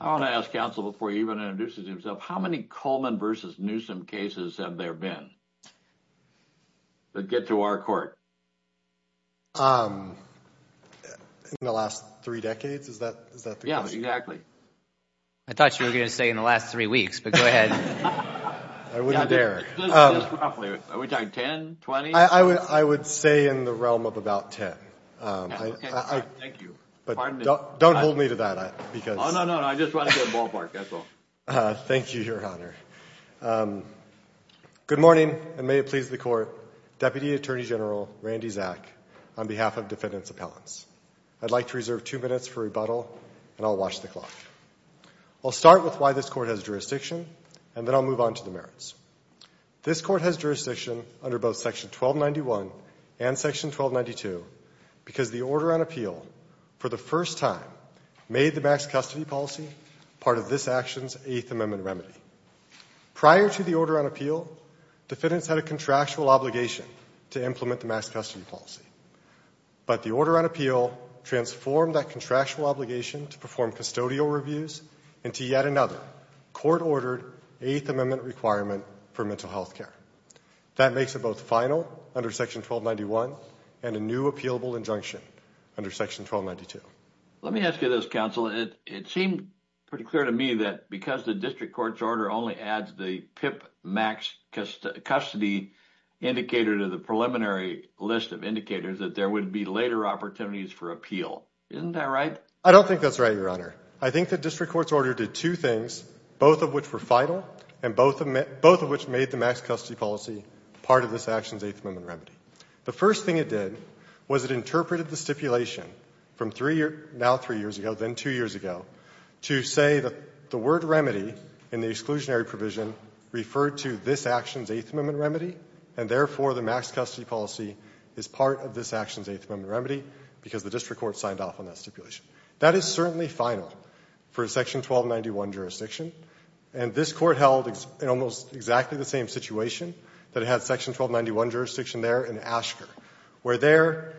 I want to ask counsel before he even introduces himself, how many Coleman versus Newsom cases have there been that get to our court? In the last three decades, is that? Yeah, exactly. I thought you were gonna say in the last three weeks, but go ahead. I wouldn't dare. Are we talking 10, 20? I would say in the realm of 10. Thank you. But don't hold me to that. No, no, no. I just want to get a ballpark, that's all. Thank you, your honor. Good morning, and may it please the court, Deputy Attorney General Randy Zak, on behalf of defendants appellants. I'd like to reserve two minutes for rebuttal, and I'll watch the clock. I'll start with why this court has jurisdiction, and then I'll move on to the merits. This court has jurisdiction under both section 1291 and section 1292, because the Order on Appeal, for the first time, made the max custody policy part of this action's Eighth Amendment remedy. Prior to the Order on Appeal, defendants had a contractual obligation to implement the max custody policy, but the Order on Appeal transformed that contractual obligation to perform custodial reviews into yet another court-ordered Eighth Amendment requirement for mental health care. That makes it both final under section 1291 and a new appealable injunction under section 1292. Let me ask you this, counsel. It seemed pretty clear to me that because the district court's order only adds the PIP max custody indicator to the preliminary list of indicators, that there would be later opportunities for appeal. Isn't that right? I don't think that's right, your honor. I think the district court's order did two things, both of which were final and both of which made the max custody policy part of this action's Eighth Amendment remedy. The first thing it did was it interpreted the stipulation from three years, now three years ago, then two years ago, to say that the word remedy in the exclusionary provision referred to this action's Eighth Amendment remedy, and therefore the max custody policy is part of this action's Eighth Amendment remedy, because the district court signed off on that stipulation. That is certainly final for a section 1291 jurisdiction, and this court held in almost exactly the same situation that it had section 1291 jurisdiction there in Asher, where there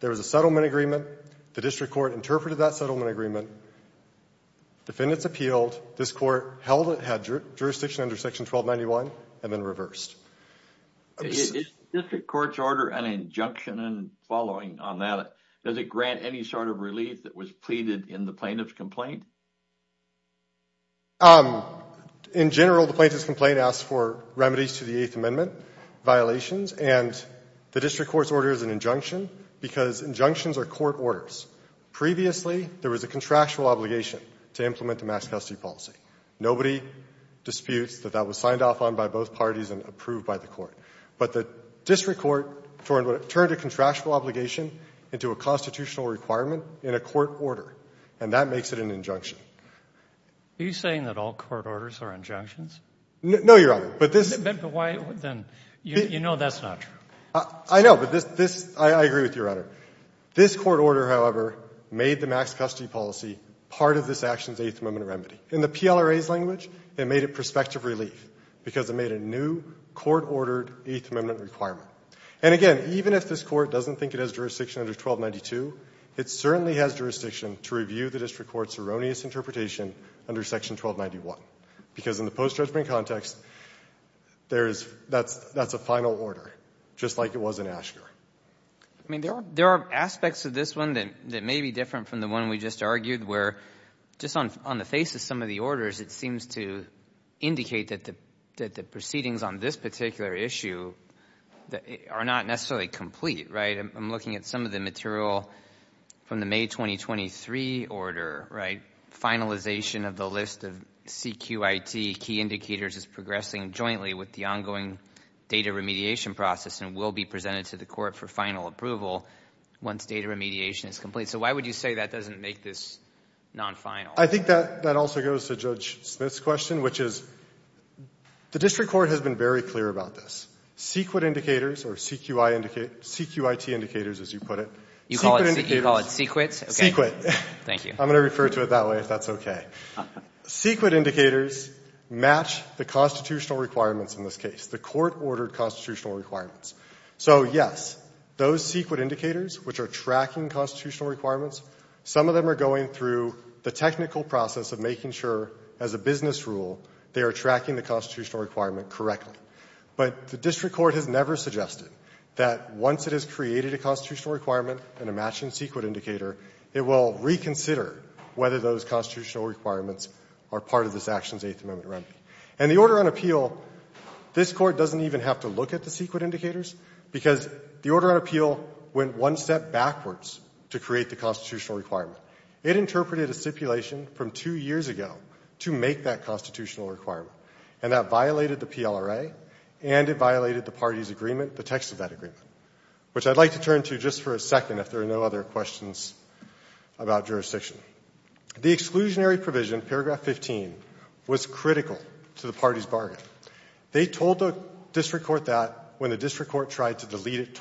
there was a settlement agreement, the district court interpreted that settlement agreement, defendants appealed, this court held it had jurisdiction under section 1291, and then reversed. Is the district court's order an injunction and following on that? Does it grant any sort of relief that was pleaded in the plaintiff's complaint? In general, the plaintiff's complaint asks for remedies to the Eighth Amendment violations, and the district court's order is an injunction, because injunctions are court orders. Previously, there was a contractual obligation to implement the max custody policy. Nobody disputes that that was signed off on by both parties and approved by the court, but the district court turned a contractual obligation into a constitutional requirement in a court order, and that makes it an injunction. Are you saying that all court orders are injunctions? No, Your Honor, but this — But why then? You know that's not true. I know, but this — I agree with you, Your Honor. This court order, however, made the max custody policy part of this action's Eighth Amendment remedy. In the PLRA's language, it made it prospective relief, because it made a new court-ordered Eighth Amendment requirement. And again, even if this court doesn't think it has jurisdiction under 1292, it certainly has jurisdiction to review the district court's erroneous interpretation under Section 1291, because in the post-judgment context, there is — that's a final order, just like it was in Asher. I mean, there are aspects of this one that may be different from the one we just argued, where just on the face of some of the orders, it seems to indicate that the proceedings on this particular issue are not necessarily complete, right? I'm looking at some of the material from the May 2023 order, right? Finalization of the list of CQIT key indicators is progressing jointly with the ongoing data remediation process and will be presented to the court for final approval once data remediation is complete. So why would you say that doesn't make this non-final? I think that also goes to Judge Smith's question, which is the district court has been very clear about this. CQIT indicators, or CQI — CQIT indicators, as you put it — You call it CQIT? CQIT. Okay. Thank you. I'm going to refer to it that way, if that's okay. CQIT indicators match the constitutional requirements in this case, the court-ordered constitutional requirements. So yes, those CQIT indicators, which are tracking constitutional requirements, some of them are going through the technical process of making sure, as a business rule, they are tracking the constitutional requirement correctly. But the district court has never suggested that once it has created a constitutional requirement and a matching CQIT indicator, it will reconsider whether those constitutional requirements are part of this action's Eighth Amendment remedy. And the order on appeal, this court doesn't even have to look at the CQIT to create the constitutional requirement. It interpreted a stipulation from two years ago to make that constitutional requirement, and that violated the PLRA, and it violated the party's agreement, the text of that agreement, which I'd like to turn to just for a second if there are no other questions about jurisdiction. The exclusionary provision, paragraph 15, was critical to the party's bargain. They told the district court that when the district court tried to delete it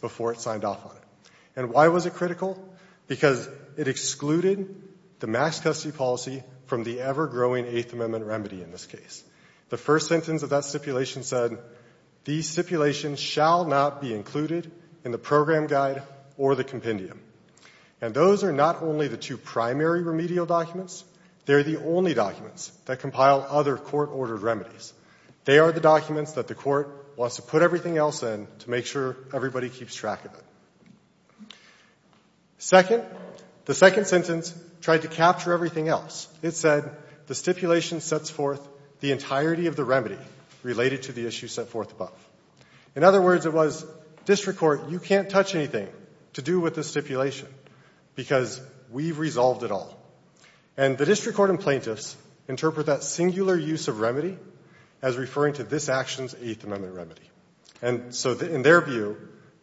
before it signed off on it. And why was it critical? Because it excluded the mass custody policy from the ever-growing Eighth Amendment remedy in this case. The first sentence of that stipulation said, these stipulations shall not be included in the program guide or the compendium. And those are not only the two primary remedial documents. They are the only documents that compile other court-ordered remedies. They are the documents that the court wants to put everything else in to make sure everybody keeps track of it. Second, the second sentence tried to capture everything else. It said, the stipulation sets forth the entirety of the remedy related to the issue set forth above. In other words, it was, district court, you can't touch anything to do with the stipulation because we've resolved it all. And the district court and plaintiffs interpret that singular use of remedy as referring to this action's Eighth Amendment remedy. And so in their view,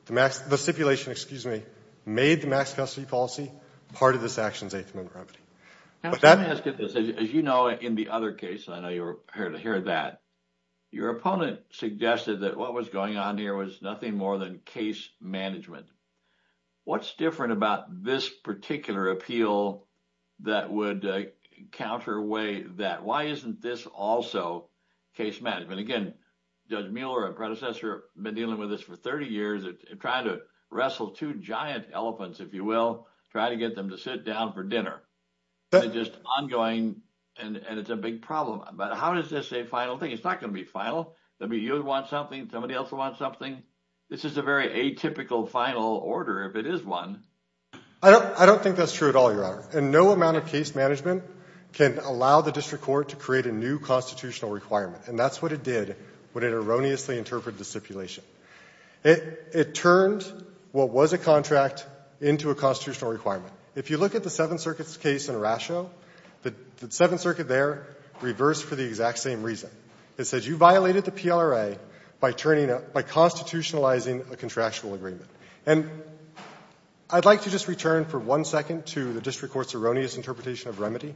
the stipulation, excuse me, made the mass custody policy part of this action's Eighth Amendment remedy. Now, let me ask you this. As you know, in the other case, I know you're here to hear that, your opponent suggested that what was going on here was nothing more than case management. What's different about this particular appeal that would counter away that? Why isn't this also case management? Again, Judge Mueller, our 30 years of trying to wrestle two giant elephants, if you will, try to get them to sit down for dinner. That's just ongoing, and it's a big problem. But how is this a final thing? It's not going to be final. That means you would want something, somebody else would want something. This is a very atypical final order, if it is one. I don't think that's true at all, Your Honor. And no amount of case management can allow the district court to create a new constitutional requirement. And that's what it did when it erroneously interpreted the stipulation. It turned what was a contract into a constitutional requirement. If you look at the Seventh Circuit's case in Rasho, the Seventh Circuit there reversed for the exact same reason. It said, you violated the PLRA by turning a — by constitutionalizing a contractual agreement. And I'd like to just return for one second to the district court's erroneous interpretation of remedy.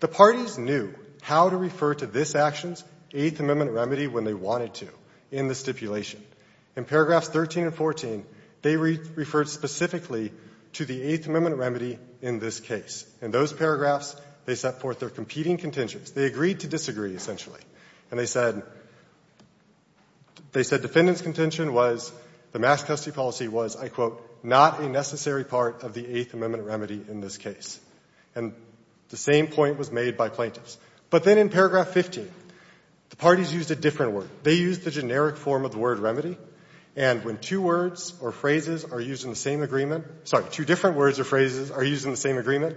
The parties knew how to refer to this action's Eighth Amendment remedy when they wanted to in the stipulation. In paragraphs 13 and 14, they referred specifically to the Eighth Amendment remedy in this case. In those paragraphs, they set forth their competing contentions. They agreed to disagree, essentially. And they said defendant's contention was — the mass custody policy was, I quote, not a necessary part of the Eighth Amendment remedy in this case. And the same point was made by plaintiffs. But then in paragraph 15, the parties used a different word. They used the generic form of the word remedy. And when two words or phrases are used in the same agreement — sorry, two different words or phrases are used in the same agreement,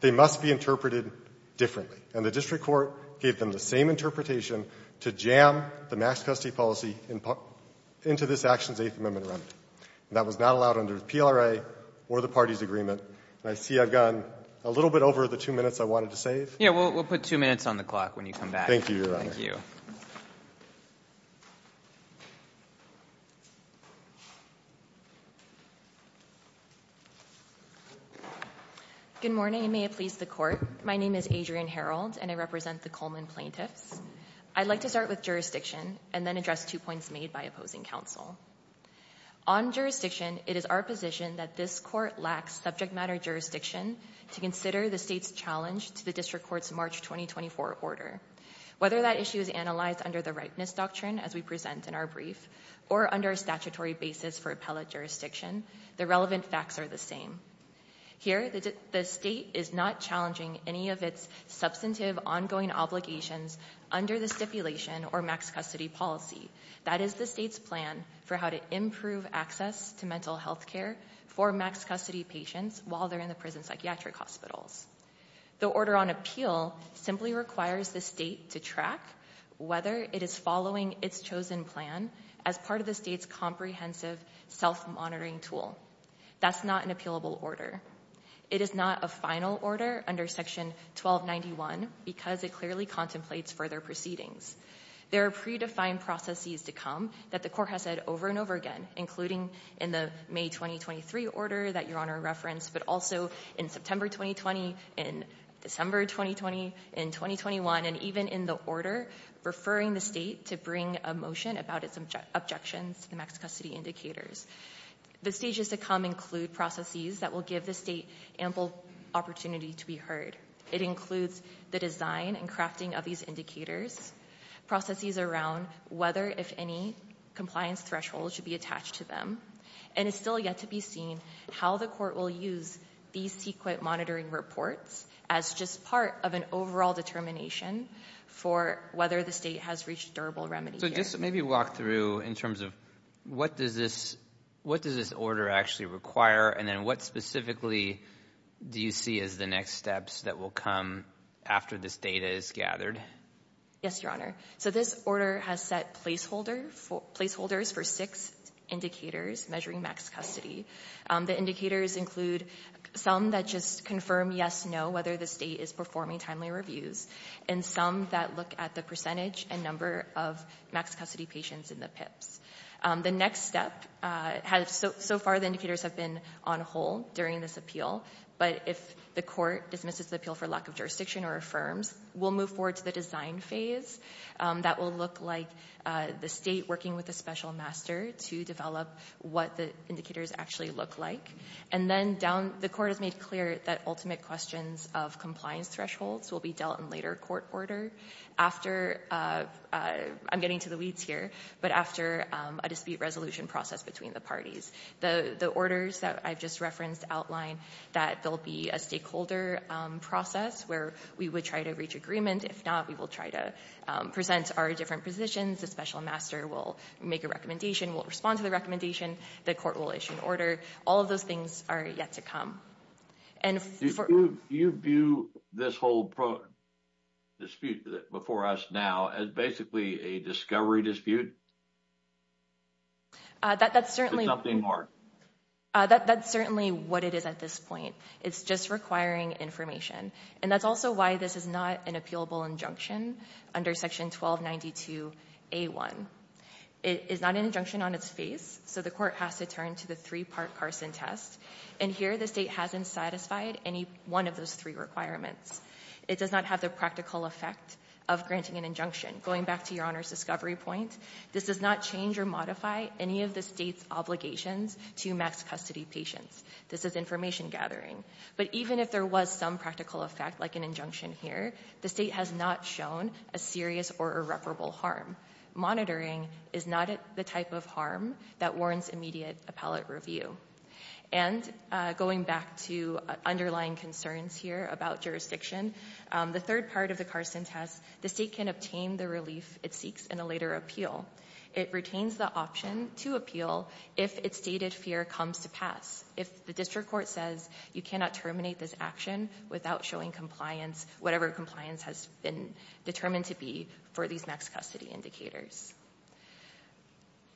they must be interpreted differently. And the district court gave them the same interpretation to jam the mass custody policy into this action's Eighth Amendment remedy. That was not allowed under PLRA or the parties' agreement. And I see I've gone a little bit over the two minutes I wanted to save. Yeah, we'll put two minutes on the clock when you come back. Thank you, Your Honor. Thank you. Good morning, and may it please the Court. My name is Adrienne Herold, and I represent the Coleman plaintiffs. I'd like to start with jurisdiction and then address two points made by opposing counsel. On jurisdiction, it is our position that this court lacks subject matter jurisdiction to consider the state's challenge to the district court's March 2024 order. Whether that issue is analyzed under the Rightness Doctrine, as we present in our brief, or under a statutory basis for appellate jurisdiction, the relevant facts are the same. Here, the state is not challenging any of its substantive, ongoing obligations under the stipulation or mass custody policy. That is the state's plan for how to improve access to mental health care for mass custody patients while they're in the prison psychiatric hospitals. The order on appeal simply requires the state to track whether it is following its chosen plan as part of the state's comprehensive self-monitoring tool. That's not an appealable order. It is not a final order under Section 1291 because it clearly contemplates further proceedings. There are predefined processes to come that the court has said over and over again, including in the May 2023 order that Your Honor referenced, but also in September 2020, in December 2020, in 2021, and even in the order referring the state to bring a motion about its objections to the mass custody indicators. The stages to come include processes that will give the state ample opportunity to be heard. It includes the design and crafting of these indicators, processes around whether compliance thresholds should be attached to them, and it's still yet to be seen how the court will use these sequent monitoring reports as just part of an overall determination for whether the state has reached durable remedy. So just maybe walk through in terms of what does this order actually require, and then what specifically do you see as the next steps that will come after this data is gathered? Yes, Your Honor. So this order has set placeholders for six indicators measuring max custody. The indicators include some that just confirm yes, no, whether the state is performing timely reviews, and some that look at the percentage and number of max custody patients in the PIPs. The next step, so far the indicators have been on hold during this appeal, but if the court dismisses the appeal for lack of jurisdiction or affirms, we'll move forward to the design phase that will look like the state working with a special master to develop what the indicators actually look like, and then down the court has made clear that ultimate questions of compliance thresholds will be dealt in later court order after, I'm getting to the weeds here, but after a dispute resolution process between the parties. The orders that I've just referenced outline that there'll be a stakeholder process where we would try to reach agreement. If not, we will try to present our different positions. The special master will make a recommendation, will respond to the recommendation. The court will issue an order. All of those things are yet to come. Do you view this whole dispute before us now as basically a discovery dispute? That's certainly, that's certainly what it is at this point. It's just requiring information, and that's also why this is not an appealable injunction under section 1292 A1. It is not an injunction on its face, so the court has to turn to the three-part Carson test, and here the state hasn't satisfied any one of those three requirements. It does not have the practical effect of granting an injunction. Going back to your honor's discovery point, this does not change or modify any of the state's obligations to max custody patients. This is information gathering, but even if there was some practical effect like an injunction here, the state has not shown a serious or irreparable harm. Monitoring is not the type of harm that warrants immediate appellate review, and going back to underlying concerns here about jurisdiction, the third part of the Carson test, the state can obtain the relief it seeks in a later appeal. It retains the option to appeal if its stated fear comes to pass. If the district court says you cannot terminate this action without showing compliance, whatever compliance has been determined to be for these max custody indicators.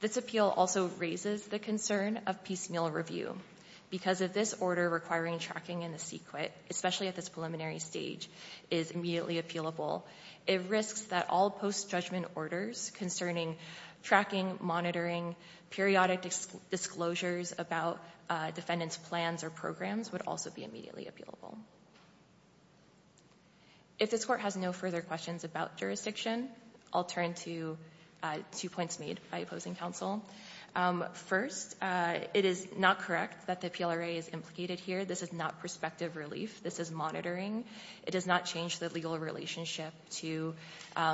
This appeal also raises the concern of piecemeal review. Because of this order requiring tracking in the secret, especially at this preliminary stage, is immediately appealable, it risks that all post-judgment orders concerning tracking, monitoring, periodic disclosures about defendant's plans or programs would also be immediately appealable. If this court has no further questions about jurisdiction, I'll turn to two points made by opposing counsel. First, it is not correct that the PLRA is implicated here. This is not prospective relief. This is monitoring. It does not change the legal relationship to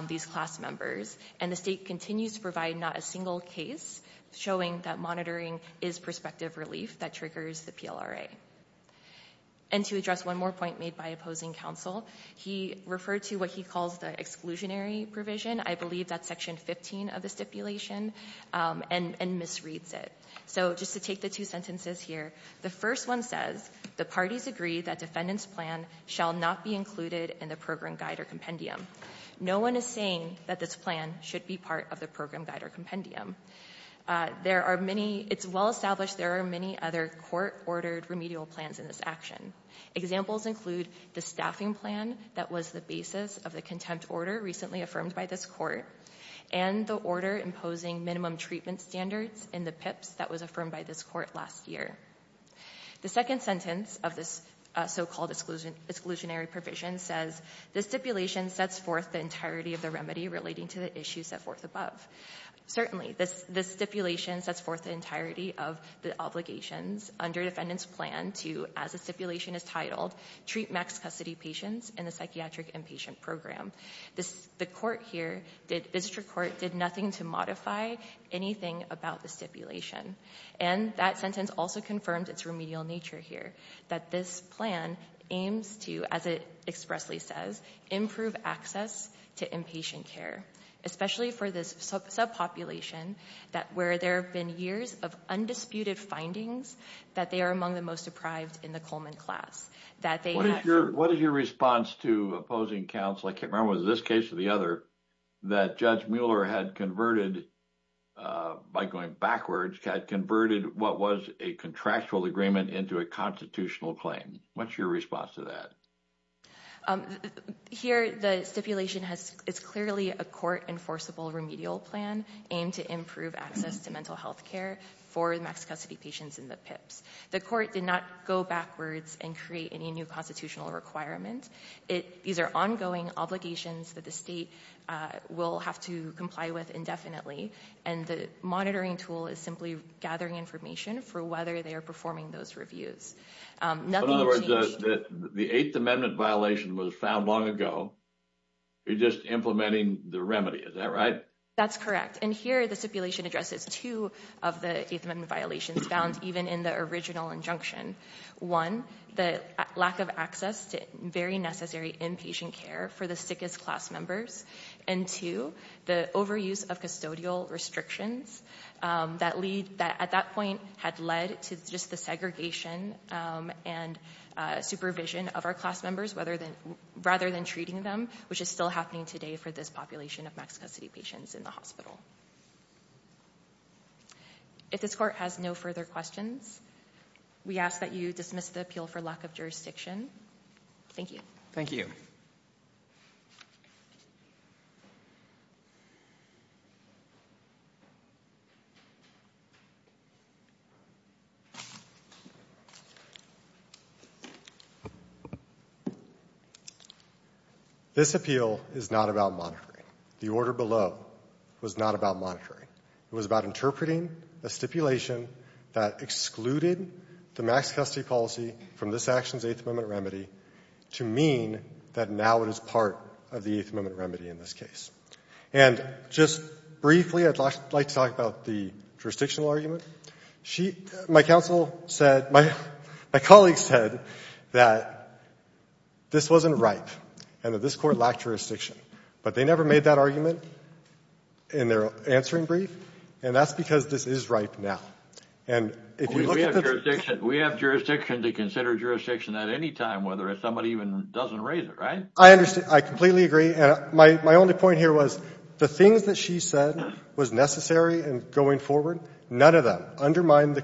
these class members, and the state continues to provide not a single case showing that monitoring is the PLRA. And to address one more point made by opposing counsel, he referred to what he calls the exclusionary provision. I believe that's section 15 of the stipulation, and misreads it. So just to take the two sentences here, the first one says, the parties agree that defendant's plan shall not be included in the program guide or compendium. No one is saying that this plan should be part of the program guide or compendium. There are many, it's well established there are many other court ordered remedial plans in this action. Examples include the staffing plan that was the basis of the contempt order recently affirmed by this court, and the order imposing minimum treatment standards in the PIPs that was affirmed by this court last year. The second sentence of this so-called exclusion exclusionary provision says, the stipulation sets forth the entirety of the remedy relating to the issues set forth above. Certainly, this stipulation sets forth the entirety of the obligations under defendant's plan to, as the stipulation is titled, treat max custody patients in the psychiatric inpatient program. The court here, the district court, did nothing to modify anything about the stipulation. And that sentence also confirmed its remedial nature here, that this plan aims to, as it expressly says, improve access to inpatient care, especially for this subpopulation that where there have been years of undisputed findings that they are among the most deprived in the Coleman class. What is your response to opposing counsel, I can't remember was this case or the other, that Judge Mueller had converted, by going backwards, had converted what was a contractual agreement into a constitutional claim? What's your response to that? Here, the stipulation has, it's clearly a court enforceable remedial plan aimed to improve access to mental health care for max custody patients in the PIPs. The court did not go backwards and create any new constitutional requirement. These are ongoing obligations that the state will have to comply with indefinitely, and the monitoring tool is simply gathering information for whether they are performing those reviews. In other words, the Eighth Amendment violation was found long ago, you're just implementing the remedy, is that right? That's correct, and here the stipulation addresses two of the Eighth Amendment violations found even in the original injunction. One, the lack of access to very necessary inpatient care for the sickest class members, and two, the overuse of custodial restrictions that lead, that at that point had led to just the segregation and supervision of our class members, whether, rather than treating them, which is still happening today for this population of max custody patients in the hospital. If this court has no further questions, we ask that you dismiss the appeal for lack of jurisdiction. Thank you. Thank you. This appeal is not about monitoring. The order below was not about monitoring. It was about interpreting a stipulation that excluded the max custody policy from this action's Eighth Amendment remedy to mean that now it is part of the Eighth Amendment remedy in this case. And just briefly, I'd like to talk about the jurisdictional argument. My counsel said, my counsel said, my colleagues said that this wasn't ripe and that this court lacked jurisdiction, but they never made that argument in their answering brief, and that's because this is ripe now. And if you look at the... We have jurisdiction to consider jurisdiction at any time, whether if somebody even doesn't raise it, right? I understand. I completely agree. And my only point here was the things that she said was necessary and going forward, none of them undermined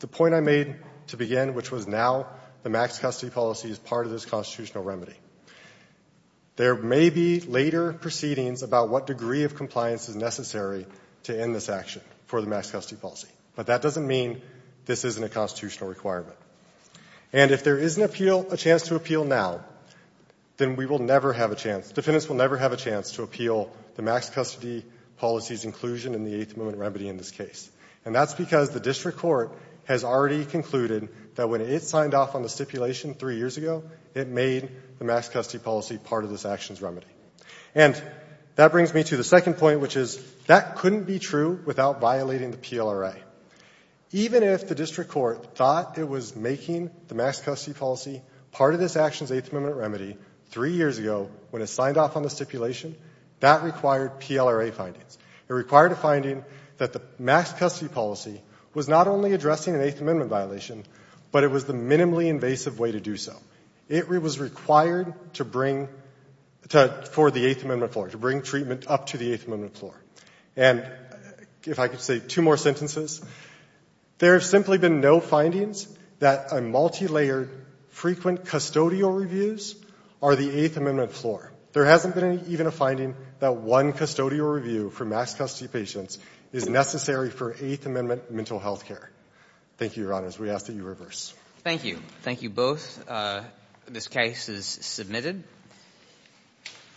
the point I made to begin, which was now the max custody policy is part of this constitutional remedy. There may be later proceedings about what degree of compliance is necessary to end this action for the max custody policy, but that doesn't mean this isn't a constitutional requirement. And if there is an appeal, a chance to appeal now, then we will never have a chance. Defendants will never have a chance to appeal the max custody policy's inclusion in the Eighth Amendment that when it signed off on the stipulation three years ago, it made the max custody policy part of this action's remedy. And that brings me to the second point, which is that couldn't be true without violating the PLRA. Even if the district court thought it was making the max custody policy part of this action's Eighth Amendment remedy three years ago when it signed off on the stipulation, that required PLRA findings. It required a finding that the max custody policy was not only addressing an Eighth Amendment violation, but it was the minimally invasive way to do so. It was required to bring for the Eighth Amendment floor, to bring treatment up to the Eighth Amendment floor. And if I could say two more sentences, there have simply been no findings that a multilayered frequent custodial reviews are the Eighth Amendment floor. There hasn't been even a finding that one custodial review for max custody patients is necessary for Eighth Amendment mental health care. Thank you, Your Honors. We ask that you reverse. Thank you. Thank you both. This case is submitted.